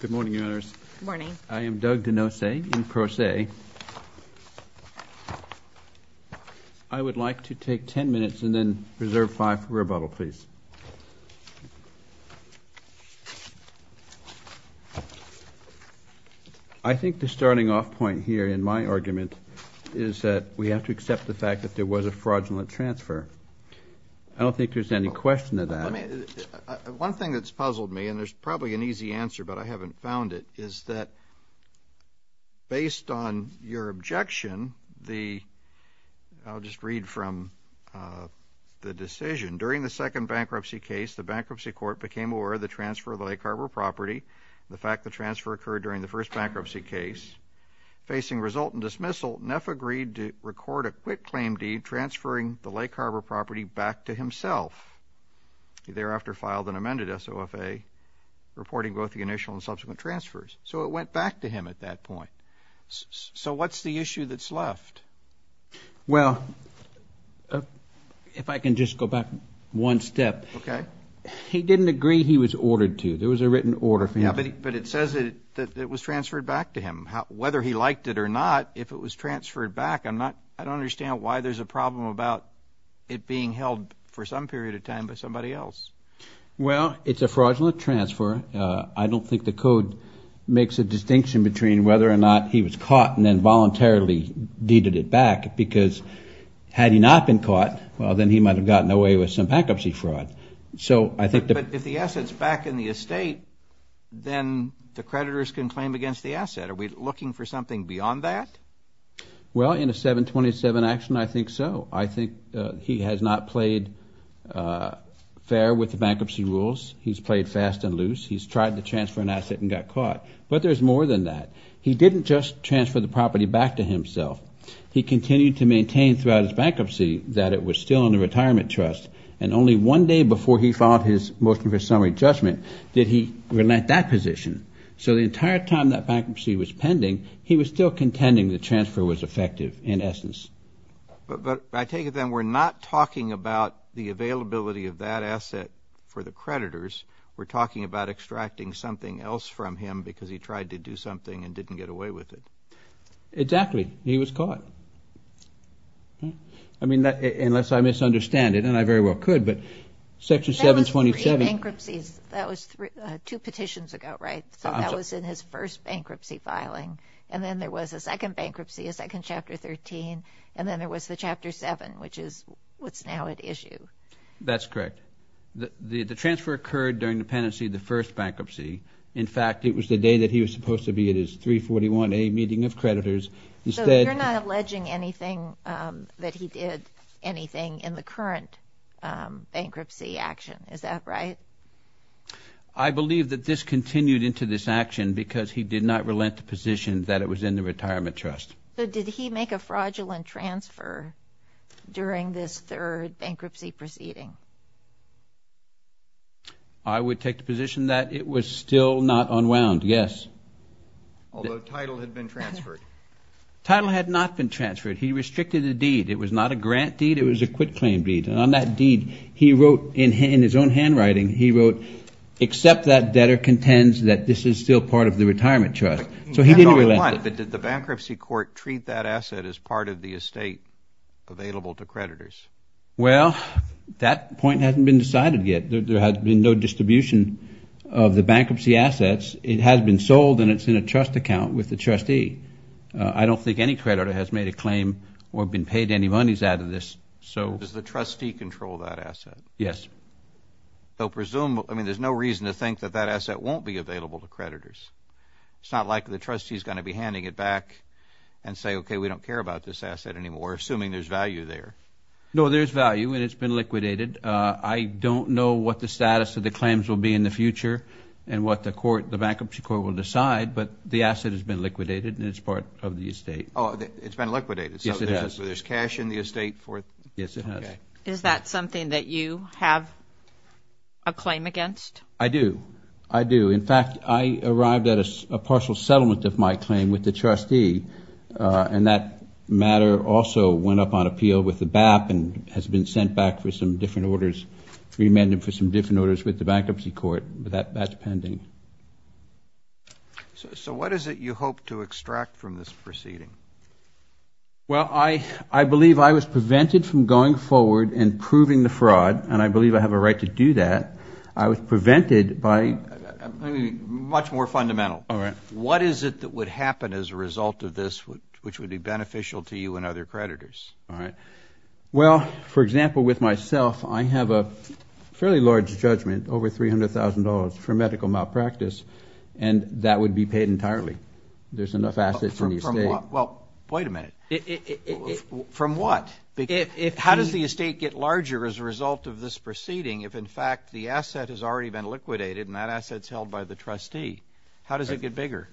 Good morning, Your Honors. Good morning. I am Doug Denoce in pro se. I would like to take ten minutes and then reserve five for rebuttal, please. I think the starting off point here in my argument is that we have to accept the fact that there was a fraudulent transfer. I don't think there's any question to that. Let me, one thing that's puzzled me and there's probably an easy answer but I haven't found it is that based on your objection, the, I'll just read from the decision. During the second bankruptcy case, the bankruptcy court became aware of the transfer of the Lake Harbor property, the fact the transfer occurred during the first bankruptcy case. Facing result in dismissal, Neff agreed to record a quit claim deed transferring the Lake Harbor property back to himself. He thereafter filed an amended SOFA reporting both the initial and subsequent transfers. So it went back to him at that point. So what's the issue that's left? Well, if I can just go back one step. Okay. He didn't agree he was ordered to. There was a written order for him. Yeah, but it says that it was transferred back to him. Whether he liked it or not, if it was transferred back, I'm not, I don't understand why there's a problem about it being held for some period of time by somebody else. Well, it's a fraudulent transfer. I don't think the code makes a distinction between whether or not he was caught and then voluntarily deeded it back because had he not been caught, well, then he might've gotten away with some bankruptcy fraud. So I think that if the asset's back in the estate, then the creditors can claim against the asset. Are we looking for something beyond that? Well, in a 727 action, I think so. I think he has not played fair with the bankruptcy rules. He's played fast and loose. He's tried to transfer an asset and got caught, but there's more than that. He didn't just transfer the property back to himself. He continued to maintain throughout his bankruptcy that it was still in the retirement trust. And only one day before he filed his motion for summary judgment, did he relent that position. So the entire time that bankruptcy was pending, he was still contending the transfer was effective in essence. But I take it then we're not talking about the availability of that asset for the creditors. We're talking about extracting something else from him because he tried to do something and didn't get away with it. Exactly. He was caught. I mean, unless I misunderstand it, and I very well could, but Section 727... That was three bankruptcies. That was two petitions ago, right? So that was in his first bankruptcy filing. And then there was a second bankruptcy, a second Chapter 13, and then there was the Chapter 7, which is what's now at issue. That's correct. The transfer occurred during the pendency of the first bankruptcy. In fact, it was the day that he was supposed to be at his 341A meeting of creditors. Instead... So you're not alleging anything that he did, anything in the current bankruptcy action. Is that right? I believe that this continued into this action because he did not relent the position that it was in the retirement trust. So did he make a fraudulent transfer during this third bankruptcy proceeding? I would take the position that it was still not unwound, yes. Although title had been transferred. Title had not been transferred. He restricted the deed. It was not a grant deed. It was a quit-claim deed. And on that deed, he wrote in his own handwriting, he wrote, except that debtor contends that this is still part of the retirement trust. So he didn't relent it. But did the bankruptcy court treat that asset as part of the estate available to creditors? Well, that point hasn't been decided yet. There has been no distribution of the bankruptcy assets. It has been sold, and it's in a trust account with the trustee. I don't think any creditor has made a claim or been paid any monies out of this. So does the trustee control that asset? Yes. So presume, I mean, there's no reason to think that that asset won't be available to creditors. It's not like the trustee is going to be handing it back and say, okay, we don't care about this asset anymore, assuming there's value there. No, there's value, and it's been liquidated. I don't know what the status of the claims will be in the future and what the court, the bankruptcy court will decide, but the asset has been liquidated, and it's part of the estate. Oh, it's been liquidated. Yes, it has. So there's cash in the estate for... Yes, it has. Is that something that you have a claim against? I do. I do. In fact, I arrived at a partial settlement of my claim with the trustee, and that matter also went up on appeal with the BAP and has been sent back for some different orders, remanded for some different orders with the bankruptcy court, but that's pending. So what is it you hope to extract from this proceeding? Well, I believe I was prevented from going forward and proving the fraud, and I believe I have a right to do that. I was prevented by... Much more fundamental. All right. What is it that would happen as a result of this which would be beneficial to you and other creditors? All right. Well, for example, with myself, I have a fairly large judgment, over $300,000 for medical malpractice, and that would be paid entirely. There's enough assets in the estate... From what? Well, wait a minute. From what? How does the estate get larger as a result of this proceeding if, in fact, the asset has already been liquidated and that asset's by the trustee? How does it get bigger?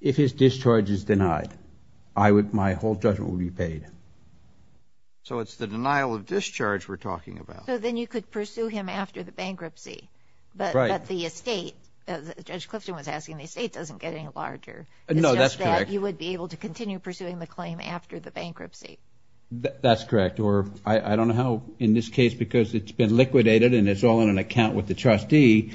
If his discharge is denied, I would... My whole judgment would be paid. So it's the denial of discharge we're talking about. So then you could pursue him after the bankruptcy, but the estate, as Judge Clifton was asking, the estate doesn't get any larger. No, that's correct. It's just that you would be able to continue pursuing the claim after the bankruptcy. That's correct, or I don't know how, in this case, because it's been liquidated and it's all in an account with the trustee,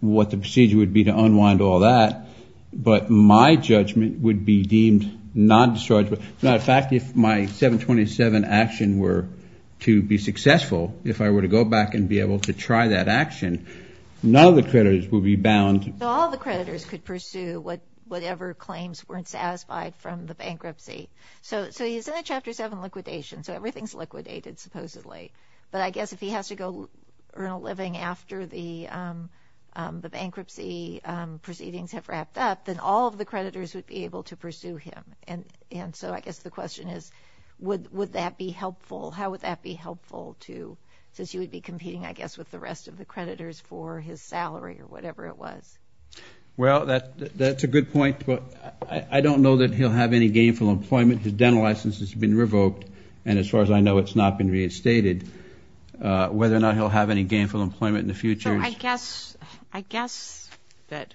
what the procedure would be to unwind all that, but my judgment would be deemed non-dischargeable. As a matter of fact, if my 727 action were to be successful, if I were to go back and be able to try that action, none of the creditors would be bound... So all the creditors could pursue whatever claims weren't satisfied from the bankruptcy. So he's in a Chapter 7 liquidation, so everything's liquidated supposedly, but I guess if he has to go earn a living after the bankruptcy proceedings have wrapped up, then all of the creditors would be able to pursue him, and so I guess the question is, would that be helpful? How would that be helpful to... Since you would be competing, I guess, with the rest of the creditors for his salary or whatever it was. Well, that's a good point, but I don't know that he'll have any gainful employment. His dental license has been revoked, and as far as I know, it's not been re-estated. Whether or not he'll have any gainful employment in the future is... So I guess that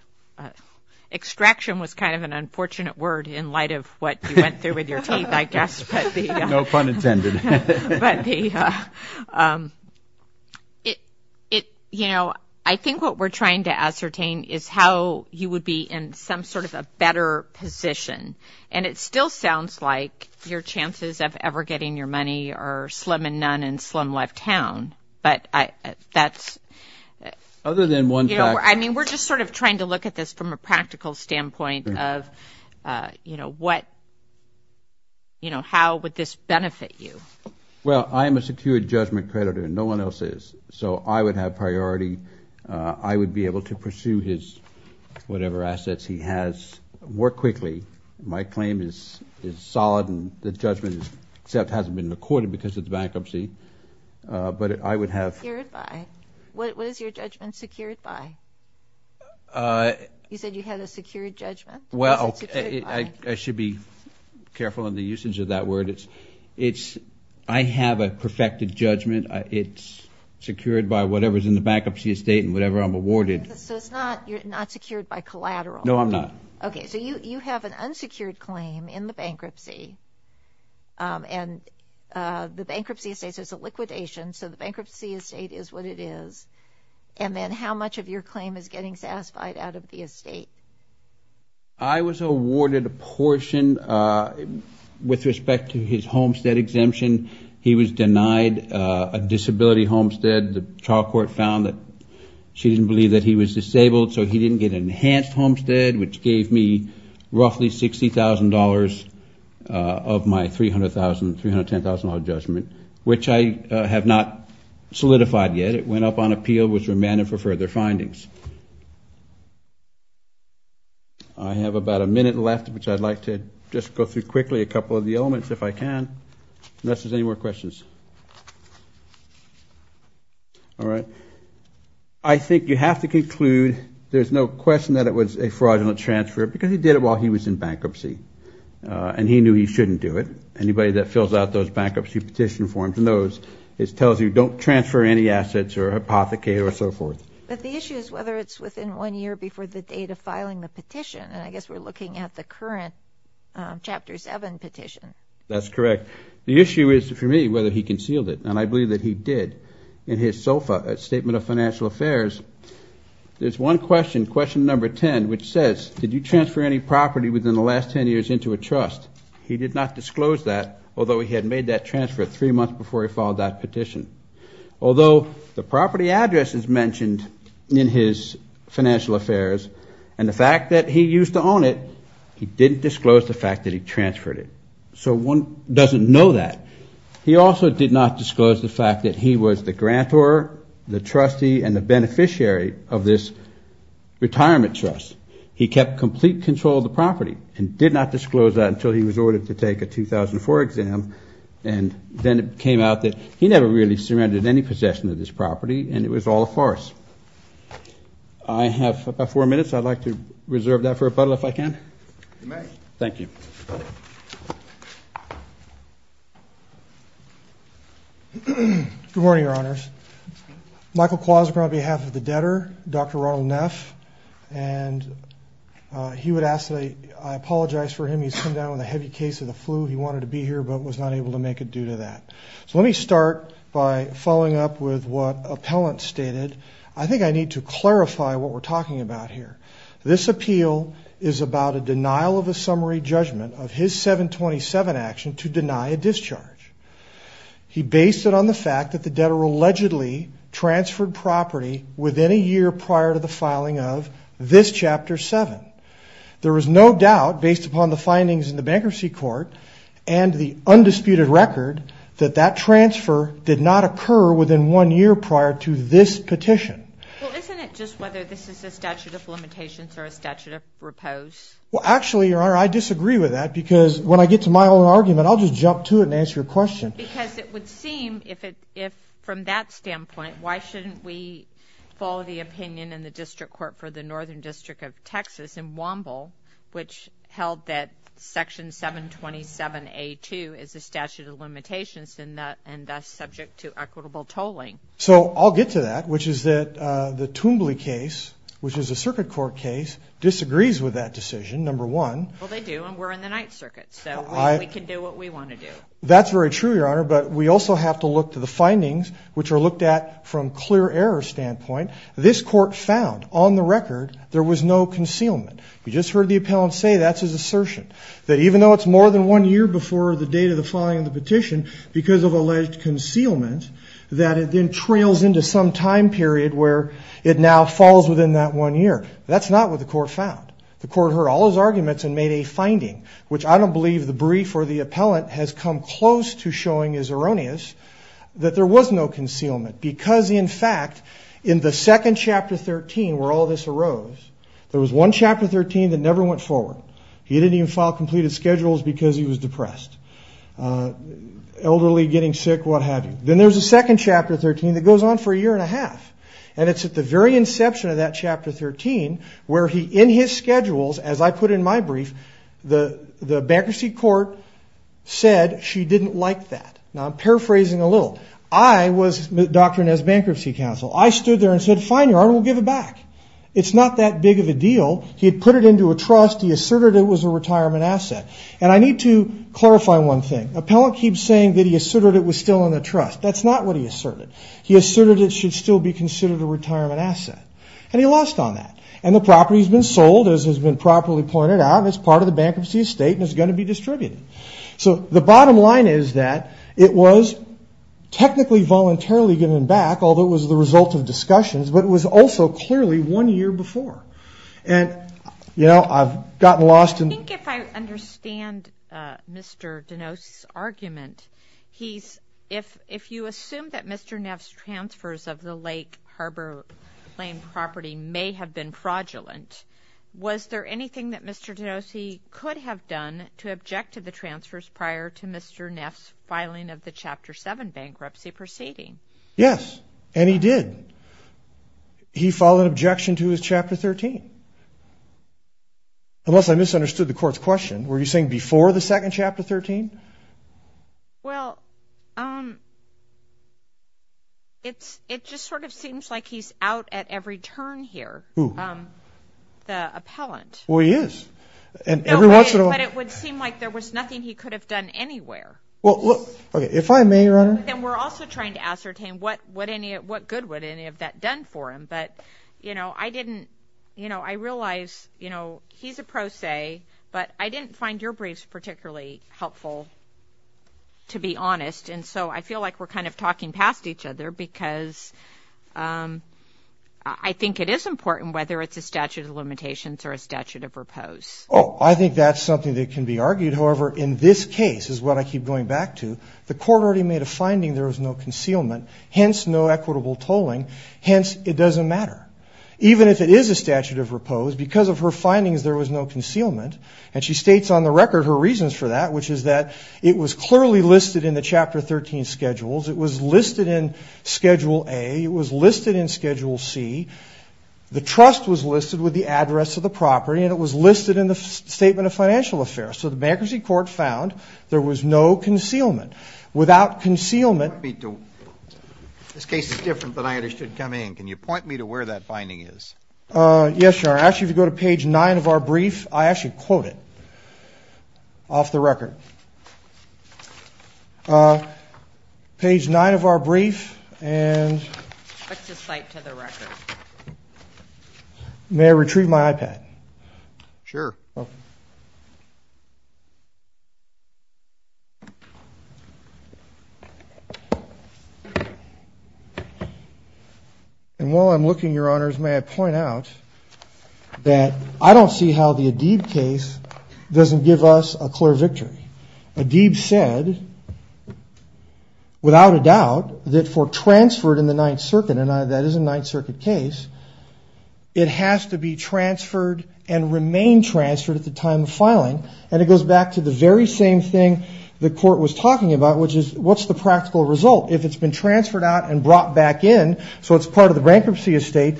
extraction was kind of an unfortunate word in light of what you went through with your teeth, I guess, but the... No pun intended. But the... You know, I think what we're trying to ascertain is how you would be in some sort of a better position, and it still sounds like your chances of ever getting your money are slim and none and slim left town, but that's... Other than one fact... I mean, we're just sort of trying to look at this from a practical standpoint of how would this benefit you? Well, I am a secured judgment creditor and no one else is, so I would have priority. I would be able to pursue his whatever assets he has more quickly. My claim is solid, and the judgment except hasn't been recorded because of the bankruptcy, but I would have... Secured by? What is your judgment secured by? You said you had a secured judgment. Well, I should be careful in the usage of that word. It's... I have a perfected judgment. It's secured by whatever's in the bankruptcy estate and whatever I'm awarded. So it's not... You're not secured by collateral? No, I'm not. Okay. So you have an unsecured claim in the bankruptcy, and the bankruptcy estate is a liquidation, so the bankruptcy estate is what it is, and then how much of your claim is getting satisfied out of the estate? I was awarded a portion with respect to his homestead exemption. He was denied a disability homestead. The trial court found that she didn't believe that he was disabled, so he didn't get an enhanced homestead, which gave me roughly $60,000 of my $300,000, $310,000 judgment, which I have not solidified yet. It went up on appeal. It was remanded for further findings. I have about a minute left, which I'd like to just go through quickly a couple of the elements if I can, unless there's any more questions. All right. I think you have to conclude there's no question that it was a fraudulent transfer because he did it while he was in bankruptcy, and he knew he shouldn't do it. Anybody that fills out those bankruptcy petition forms knows it tells you don't transfer any assets or hypothecate or so forth. But the issue is whether it's within one year before the date of filing the petition, and I guess we're looking at the current Chapter 7 petition. That's correct. The issue is, for me, whether he concealed it, and I believe that he did. In his SOFA, Statement of Financial Affairs, there's one question, question number 10, which says, did you transfer any property within the last 10 years into a trust? He did not disclose that, although he had made that transfer three months before he filed that petition. Although the property address is mentioned in his financial affairs, and the fact that he used to own it, he didn't disclose the fact that he transferred it. So one doesn't know that. He also did not disclose the fact that he was the grantor, the trustee, and the beneficiary of this retirement trust. He kept complete control of the property and did not disclose that until he was ordered to take a 2004 exam, and then it came out that he never really surrendered any possession of this property, and it was all a farce. I have about four minutes. I'd like to reserve that for rebuttal, if I can. You may. Thank you. Good morning, Your Honors. Michael Quaz on behalf of the debtor, Dr. Ronald Neff, and he would ask that I apologize for him. He's come down with a heavy case of the flu. He wanted to be here but was not able to make it due to that. So let me start by following up with what Appellant stated. I think I need to clarify what we're talking about here. This appeal is about a denial of a summary judgment of his 727 action to deny a discharge. He based it on the fact that the debtor allegedly transferred property within a year prior to the filing of this Chapter 7. There is no disputed record that that transfer did not occur within one year prior to this petition. Well, isn't it just whether this is a statute of limitations or a statute of repose? Well, actually, Your Honor, I disagree with that because when I get to my own argument, I'll just jump to it and answer your question. Because it would seem if from that standpoint, why shouldn't we follow the opinion in the District Court for the Northern District of the District Court? So I'll get to that, which is that the Toombley case, which is a Circuit Court case, disagrees with that decision, number one. Well, they do, and we're in the Ninth Circuit, so we can do what we want to do. That's very true, Your Honor, but we also have to look to the findings, which are looked at from clear error standpoint. This Court found on the record there was no concealment. You just heard the Appellant say that's his assertion, that even though it's more than one year before the date of the filing of the petition because of alleged concealment, that it then trails into some time period where it now falls within that one year. That's not what the Court found. The Court heard all his arguments and made a finding, which I don't believe the brief or the Appellant has come close to showing is erroneous, that there was no concealment because, in fact, in the second Chapter 13 where all this arose, there was one Chapter 13 that never went forward. He didn't even file completed schedules because he was depressed. Elderly, getting sick, what have you. Then there's a second Chapter 13 that goes on for a year and a half, and it's at the very inception of that Chapter 13 where he, in his schedules, as I put in my brief, the Bankruptcy Court said she didn't like that. Now, I'm paraphrasing a little. I was Dr. Nez's Bankruptcy Counsel. I stood there and said, fine, Your Honor, we'll give it back. It's not that big of a deal. He put it into a trust. He asserted it was a retirement asset. And I need to clarify one thing. Appellant keeps saying that he asserted it was still in the trust. That's not what he asserted. He asserted it should still be considered a retirement asset. And he lost on that. And the property has been sold, as has been properly pointed out, as part of the bankruptcy estate and is going to be distributed. So the bottom line is that it was technically voluntarily given back, although it was the result of discussions, but it was also clearly one year before. And, you know, I've gotten lost in... I think if I understand Mr. DeNos's argument, he's, if you assume that Mr. Neff's transfers of the Lake Harbor Lane property may have been fraudulent, was there anything that Mr. DeNos could have done to object to the transfers prior to Mr. Neff's filing of the Chapter 7 bankruptcy proceeding? Yes, and he did. He filed an objection to his Chapter 13. Unless I misunderstood the court's question, were you saying before the second Chapter 13? Well, it just sort of seems like he's out at every turn here. Who? The appellant. Well, he is. No way, but it would seem like there was nothing he could have done anywhere. Well, look, if I may, Your Honor... But then we're also trying to ascertain what good would any of that have done for him. But, you know, I didn't, you know, I realize, you know, he's a pro se, but I didn't find your briefs particularly helpful, to be honest. And so I feel like we're kind of talking past each other because I think it is important, whether it's a statute of limitations or a statute of repose. Oh, I think that's something that can be argued. However, in this case, is what I keep going back to. The court already made a finding there was no concealment, hence no equitable tolling. Hence, it doesn't matter. Even if it is a statute of repose, because of her findings there was no concealment. And she states on the record her reasons for that, which is that it was clearly listed in the Chapter 13 schedules. It was listed in Schedule A. It was listed in Schedule C. The trust was listed with the address of the property and it was listed in the Statement of Financial Affairs. So the bankruptcy court found there was no concealment. Without concealment... This case is different than I understood coming in. Can you point me to where that finding is? Yes, Your Honor. Actually, if you go to page nine of our brief, I actually quote it off the record. Page nine of our brief and... What's the cite to the record? May I retrieve my iPad? Sure. Okay. And while I'm looking, Your Honors, may I point out that I don't see how the Adib case doesn't give us a clear victory. Adib said, without a doubt, that for transferred in the Ninth Circuit, and that is a Ninth Circuit case, it has to be transferred and remain transferred at the time of filing. And it goes back to the very same thing the court was talking about, which is, what's the practical result? If it's been transferred out and brought back in, so it's part of the bankruptcy estate,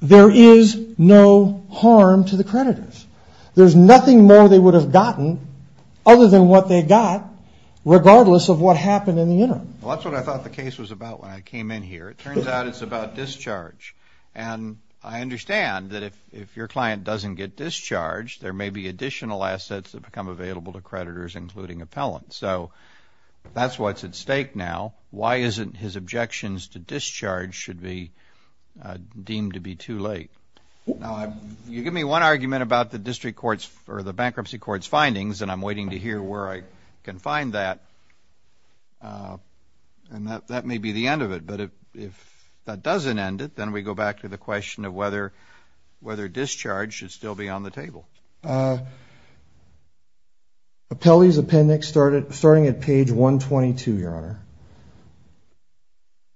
there is no harm to the creditors. There's nothing more they would have gotten, other than what they got, regardless of what happened in the interim. Well, that's what I thought the case was about when I came in here. It turns out it's about there may be additional assets that become available to creditors, including appellants. So that's what's at stake now. Why isn't his objections to discharge should be deemed to be too late? Now, you give me one argument about the district court's or the bankruptcy court's findings, and I'm waiting to hear where I can find that. And that may be the end of it. But if that doesn't end it, then we go back to the question of whether discharge should still be on the table. Appellee's appendix, starting at page 122, Your Honor,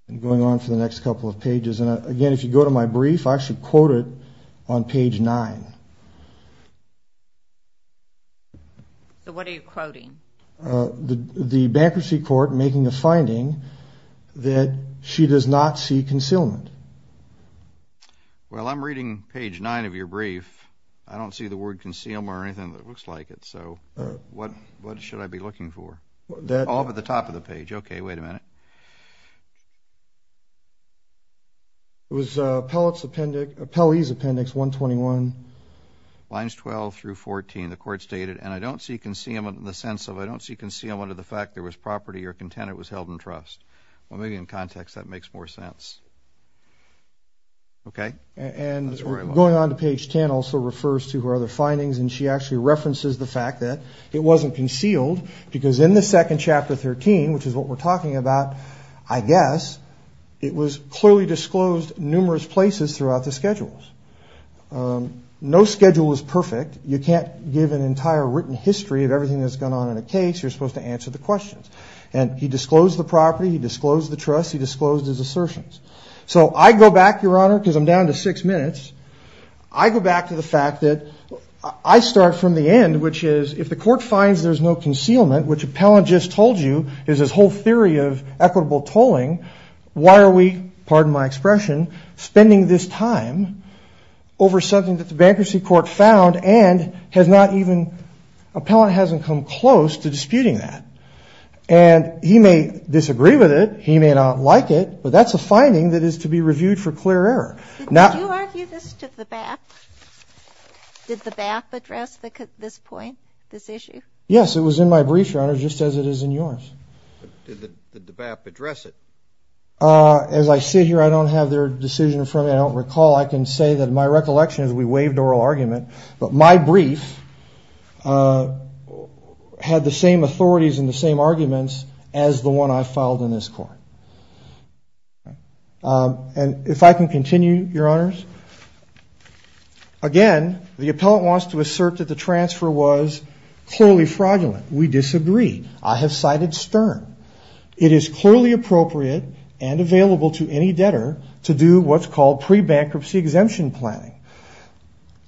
and going on for the next couple of pages. And again, if you go to my brief, I should quote it on page 9. So what are you quoting? The bankruptcy court making a finding that she does not see concealment. Well, I'm reading page 9 of your brief. I don't see the word concealment or anything that looks like it. So what should I be looking for? All but the top of the page. Okay, wait a minute. It was appellee's appendix 121. Lines 12 through 14, the court stated, and I don't see concealment in the sense of, I don't see concealment of the fact there was property or content it was held in trust. Well, maybe in context that makes more sense. Okay? And going on to page 10 also refers to her other findings, and she actually references the fact that it wasn't concealed, because in the second chapter 13, which is what we're talking about, I guess, it was clearly disclosed numerous places throughout the schedules. No schedule is perfect. You can't give an entire written history of everything that's gone on in a case. You're supposed to answer the questions. And he disclosed the property. He disclosed the trust. He disclosed his assertions. So I go back, Your Honor, because I'm down to six minutes. I go back to the fact that I start from the end, which is if the court finds there's no concealment, which appellant just told you is this whole theory of equitable tolling, why are we, pardon my expression, spending this time over something that the bankruptcy court found and has not even, appellant hasn't come close to disputing that. And he may disagree with it. He may not like it. But that's a finding that is to be reviewed for clear error. Did you argue this to the BAP? Did the BAP address this point, this issue? Yes, it was in my brief, Your Honor, just as it is in yours. Did the BAP address it? As I sit here, I don't have their decision for me. I don't recall. I can say that my recollection is we waived oral argument. But my brief had the same authorities and the same arguments as the one I filed in this court. And if I can continue, Your Honors, again, the appellant wants to assert that the transfer was clearly fraudulent. We disagree. I have cited Stern. It is clearly appropriate and available to any debtor to do what's called pre-bankruptcy exemption planning.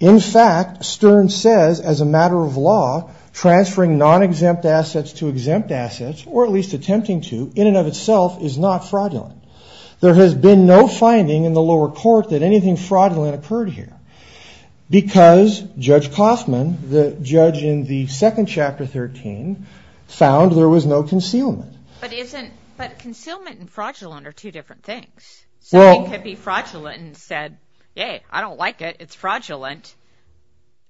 In fact, Stern says, as a matter of law, transferring non-exempt assets to exempt assets, or at least attempting to, in and of itself is not fraudulent. There has been no finding in the lower court that anything fraudulent occurred here. Because Judge Coffman, the judge in the second chapter 13, found there was no concealment. But concealment and fraudulent are two different things. Something could be fraudulent and said, yeah, I don't like it, it's fraudulent.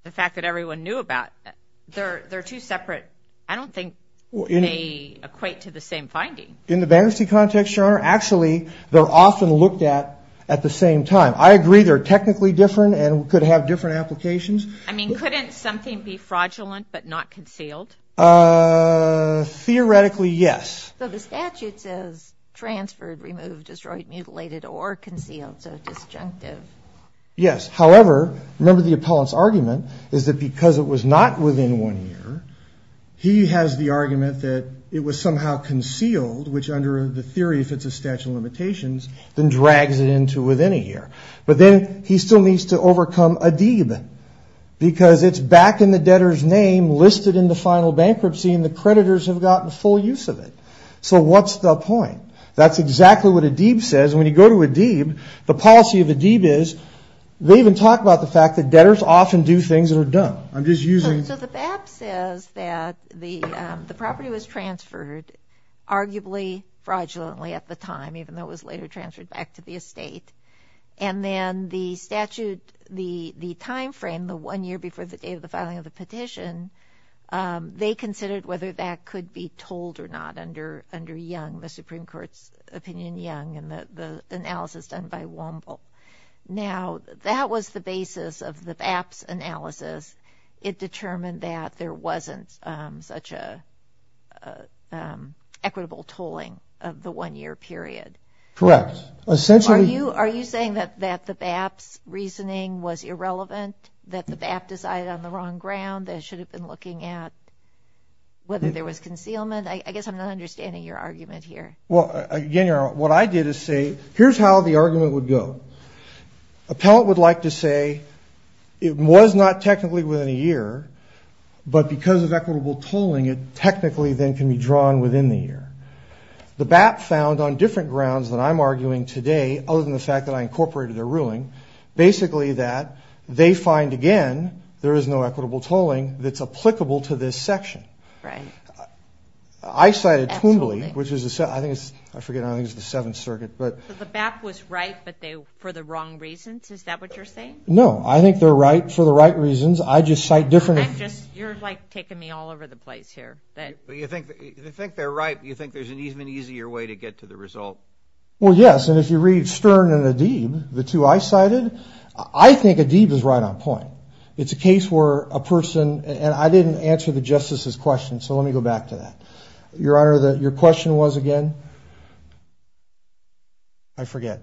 The fact that everyone knew about it. They're two separate, I don't think they equate to the same finding. In the bankruptcy context, Your Honor, actually, they're often looked at at the same time. I agree they're technically different and could have different applications. I mean, couldn't something be fraudulent but not concealed? Theoretically, yes. But the statute says transferred, removed, destroyed, mutilated, or concealed, so disjunctive. Yes. However, remember the appellant's argument is that because it was not within one year, he has the argument that it was somehow concealed, which under the theory if it's a statute of limitations, then drags it into within a year. But then he still needs to overcome Adib. Because it's back in the debtor's name, listed in the final bankruptcy, and the creditors have gotten full use of it. So what's the point? That's exactly what Adib says. When you go to Adib, the policy of Adib is they even talk about the fact that debtors often do things that are dumb. So the BAP says that the property was transferred arguably fraudulently at the time, even though it was later transferred back to the estate. And then the statute, the time frame, the one year before the day of the filing of the petition, they considered whether that could be told or not under Young, the Supreme Court's opinion, Young and the analysis done by Womble. Now, that was the basis of the BAP's analysis. It determined that there wasn't such an equitable tolling of the one year period. Correct. Are you saying that the BAP's reasoning was irrelevant, that the BAP decided on the wrong ground, they should have been looking at whether there was concealment? I guess I'm not understanding your argument here. Well, again, what I did is say, here's how the argument would go. Appellant would like to say it was not technically within a year, but because of equitable tolling it technically then can be drawn within the year. The BAP found on different grounds than I'm arguing today, other than the fact that I incorporated their ruling, basically that they find, again, there is no equitable tolling that's applicable to this section. Right. I cited Twombly, which is, I forget, I think it's the Seventh Circuit. The BAP was right, but for the wrong reasons? Is that what you're saying? No, I think they're right for the right reasons. I just cite different. You're, like, taking me all over the place here. You think they're right, but you think there's an even easier way to get to the result. Well, yes, and if you read Stern and Adib, the two I cited, I think Adib is right on point. It's a case where a person, and I didn't answer the Justice's question, so let me go back to that. Your Honor, your question was, again, I forget.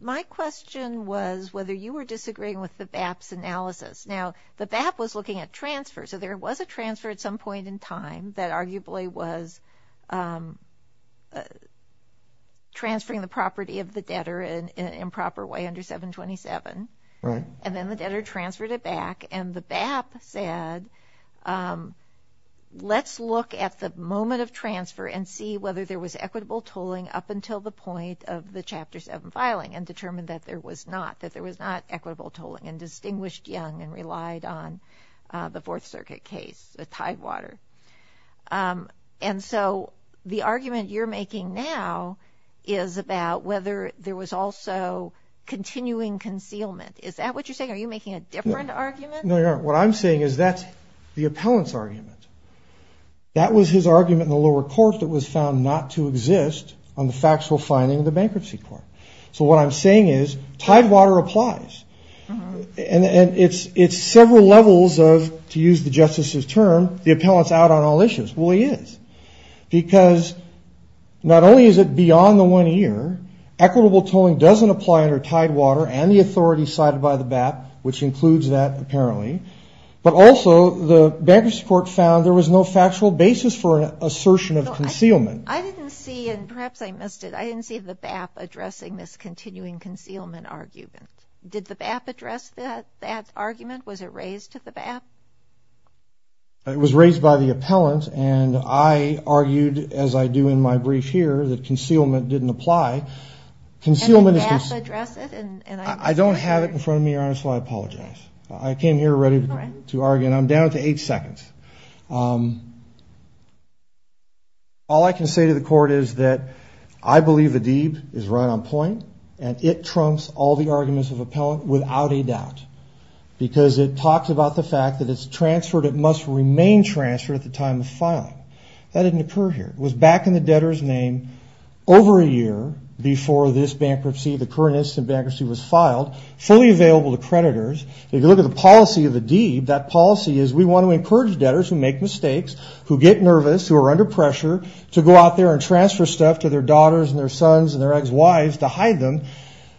My question was whether you were disagreeing with the BAP's analysis. Now, the BAP was looking at transfers, so there was a transfer at some point in time that arguably was transferring the property of the debtor in an improper way under 727. Right. And then the debtor transferred it back, and the BAP said, let's look at the moment of transfer and see whether there was equitable tolling up until the point of the Chapter 7 filing and determined that there was not, that there was not equitable tolling and distinguished young and relied on the Fourth Circuit case, the Tidewater. And so the argument you're making now is about whether there was also continuing concealment. Is that what you're saying? Are you making a different argument? No, Your Honor. What I'm saying is that's the appellant's argument. That was his argument in the lower court that was found not to exist on the factual finding of the bankruptcy court. So what I'm saying is Tidewater applies, and it's several levels of, to use the Justice's term, the appellant's out on all issues. Well, he is because not only is it beyond the one year, equitable tolling doesn't apply under Tidewater and the authority cited by the BAP, which includes that apparently, but also the bankruptcy court found there was no factual basis for an assertion of concealment. I didn't see, and perhaps I missed it, I didn't see the BAP addressing this continuing concealment argument. Did the BAP address that argument? Was it raised to the BAP? It was raised by the appellant, and I argued, as I do in my brief here, that concealment didn't apply. And the BAP addressed it? I don't have it in front of me, Your Honor, so I apologize. I came here ready to argue, and I'm down to eight seconds. All I can say to the court is that I believe Adib is right on point, and it trumps all the arguments of appellant without a doubt, because it talks about the fact that it's transferred. It must remain transferred at the time of filing. That didn't occur here. It was back in the debtor's name over a year before this bankruptcy, the current instance of bankruptcy was filed, fully available to creditors. If you look at the policy of Adib, that policy is we want to encourage debtors who make mistakes, who get nervous, who are under pressure, to go out there and transfer stuff to their daughters and their sons and their ex-wives to hide them.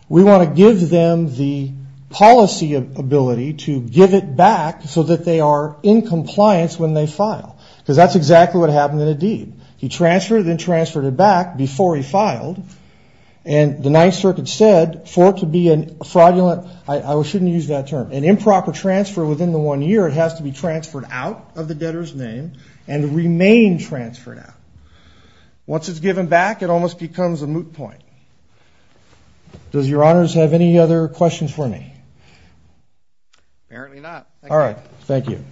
We want to give them the policy ability to give it back so that they are in compliance when they file, because that's exactly what happened in Adib. He transferred it, then transferred it back before he filed, and the Ninth Circuit said for it to be a fraudulent, I shouldn't use that term, an improper transfer within the one year, it has to be transferred out of the debtor's name and remain transferred out. Once it's given back, it almost becomes a moot point. Does Your Honors have any other questions for me? Apparently not. All right. Thank you.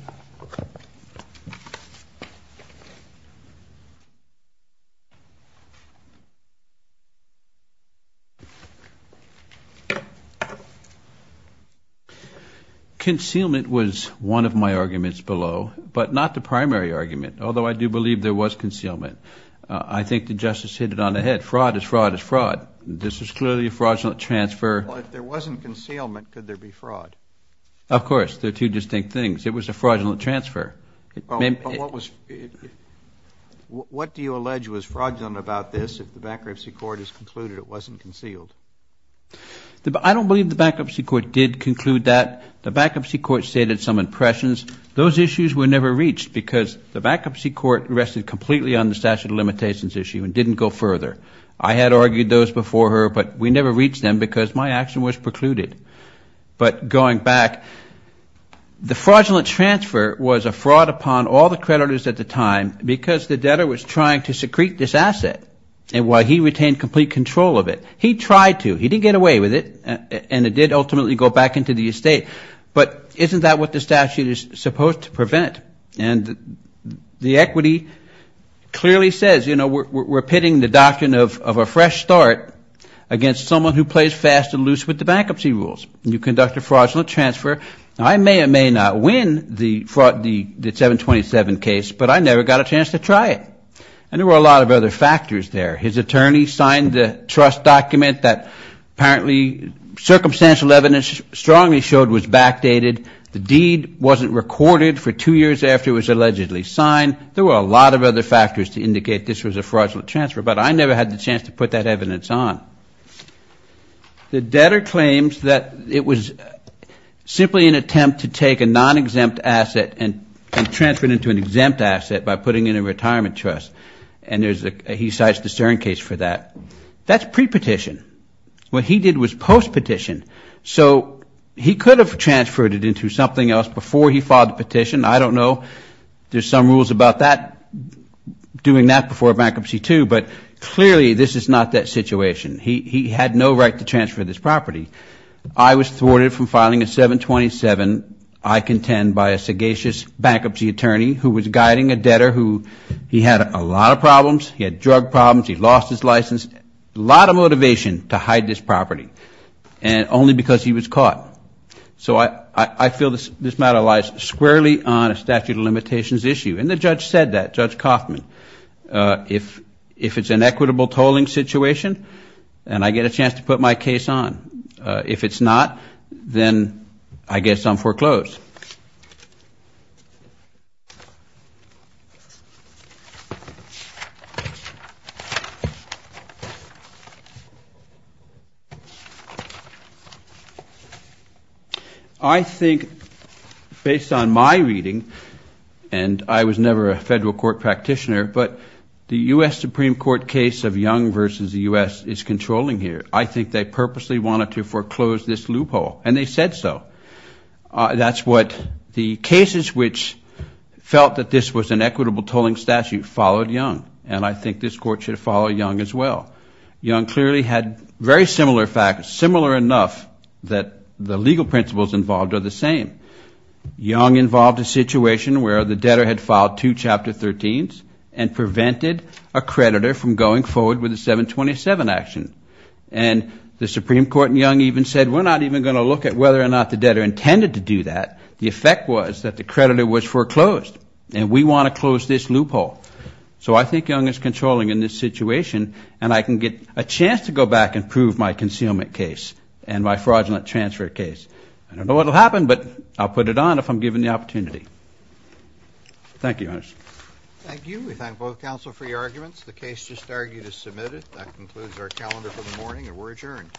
Concealment was one of my arguments below, but not the primary argument, although I do believe there was concealment. I think the Justice hit it on the head. Fraud is fraud is fraud. This is clearly a fraudulent transfer. Well, if there wasn't concealment, could there be fraud? Of course. They're two distinct things. It was a fraudulent transfer. What do you allege was fraudulent about this if the bankruptcy court has concluded it wasn't concealed? I don't believe the bankruptcy court did conclude that. The bankruptcy court stated some impressions. Those issues were never reached because the bankruptcy court rested completely on the statute of limitations issue and didn't go further. I had argued those before her, but we never reached them because my action was precluded. But going back, the fraudulent transfer was a fraud upon all the creditors at the time because the debtor was trying to secrete this asset while he retained complete control of it. He tried to. He didn't get away with it, and it did ultimately go back into the estate. But isn't that what the statute is supposed to prevent? And the equity clearly says, you know, we're pitting the doctrine of a fresh start against someone who plays fast and loose with the bankruptcy rules. You conduct a fraudulent transfer. Now, I may or may not win the 727 case, but I never got a chance to try it. And there were a lot of other factors there. His attorney signed the trust document that apparently circumstantial evidence strongly showed was backdated. The deed wasn't recorded for two years after it was allegedly signed. There were a lot of other factors to indicate this was a fraudulent transfer, but I never had the chance to put that evidence on. The debtor claims that it was simply an attempt to take a non-exempt asset and transfer it into an exempt asset by putting it in a retirement trust. And he cites the Stern case for that. That's pre-petition. What he did was post-petition. So he could have transferred it into something else before he filed the petition. I don't know. There's some rules about that, doing that before a bankruptcy, too. But clearly this is not that situation. He had no right to transfer this property. I was thwarted from filing a 727, I contend, by a sagacious bankruptcy attorney who was guiding a debtor who he had a lot of problems. He had drug problems. He lost his license. A lot of motivation to hide this property, and only because he was caught. So I feel this matter lies squarely on a statute of limitations issue. And the judge said that, Judge Kaufman. If it's an equitable tolling situation, then I get a chance to put my case on. If it's not, then I guess I'm foreclosed. I think, based on my reading, and I was never a federal court practitioner, but the U.S. Supreme Court case of Young v. the U.S. is controlling here. I think they purposely wanted to foreclose this loophole. And they said so. That's what the cases which felt that this was an equitable tolling statute followed Young. And I think this Court should follow Young as well. Young clearly had very similar facts, similar enough that the legal principles involved are the same. Young involved a situation where the debtor had filed two Chapter 13s and prevented a creditor from going forward with a 727 action. And the Supreme Court in Young even said, we're not even going to look at whether or not the debtor intended to do that. The effect was that the creditor was foreclosed, and we want to close this loophole. So I think Young is controlling in this situation, and I can get a chance to go back and prove my concealment case and my fraudulent transfer case. I don't know what will happen, but I'll put it on if I'm given the opportunity. Thank you, Your Honor. Thank you. We thank both counsel for your arguments. The case just argued is submitted. That concludes our calendar for the morning, and we're adjourned.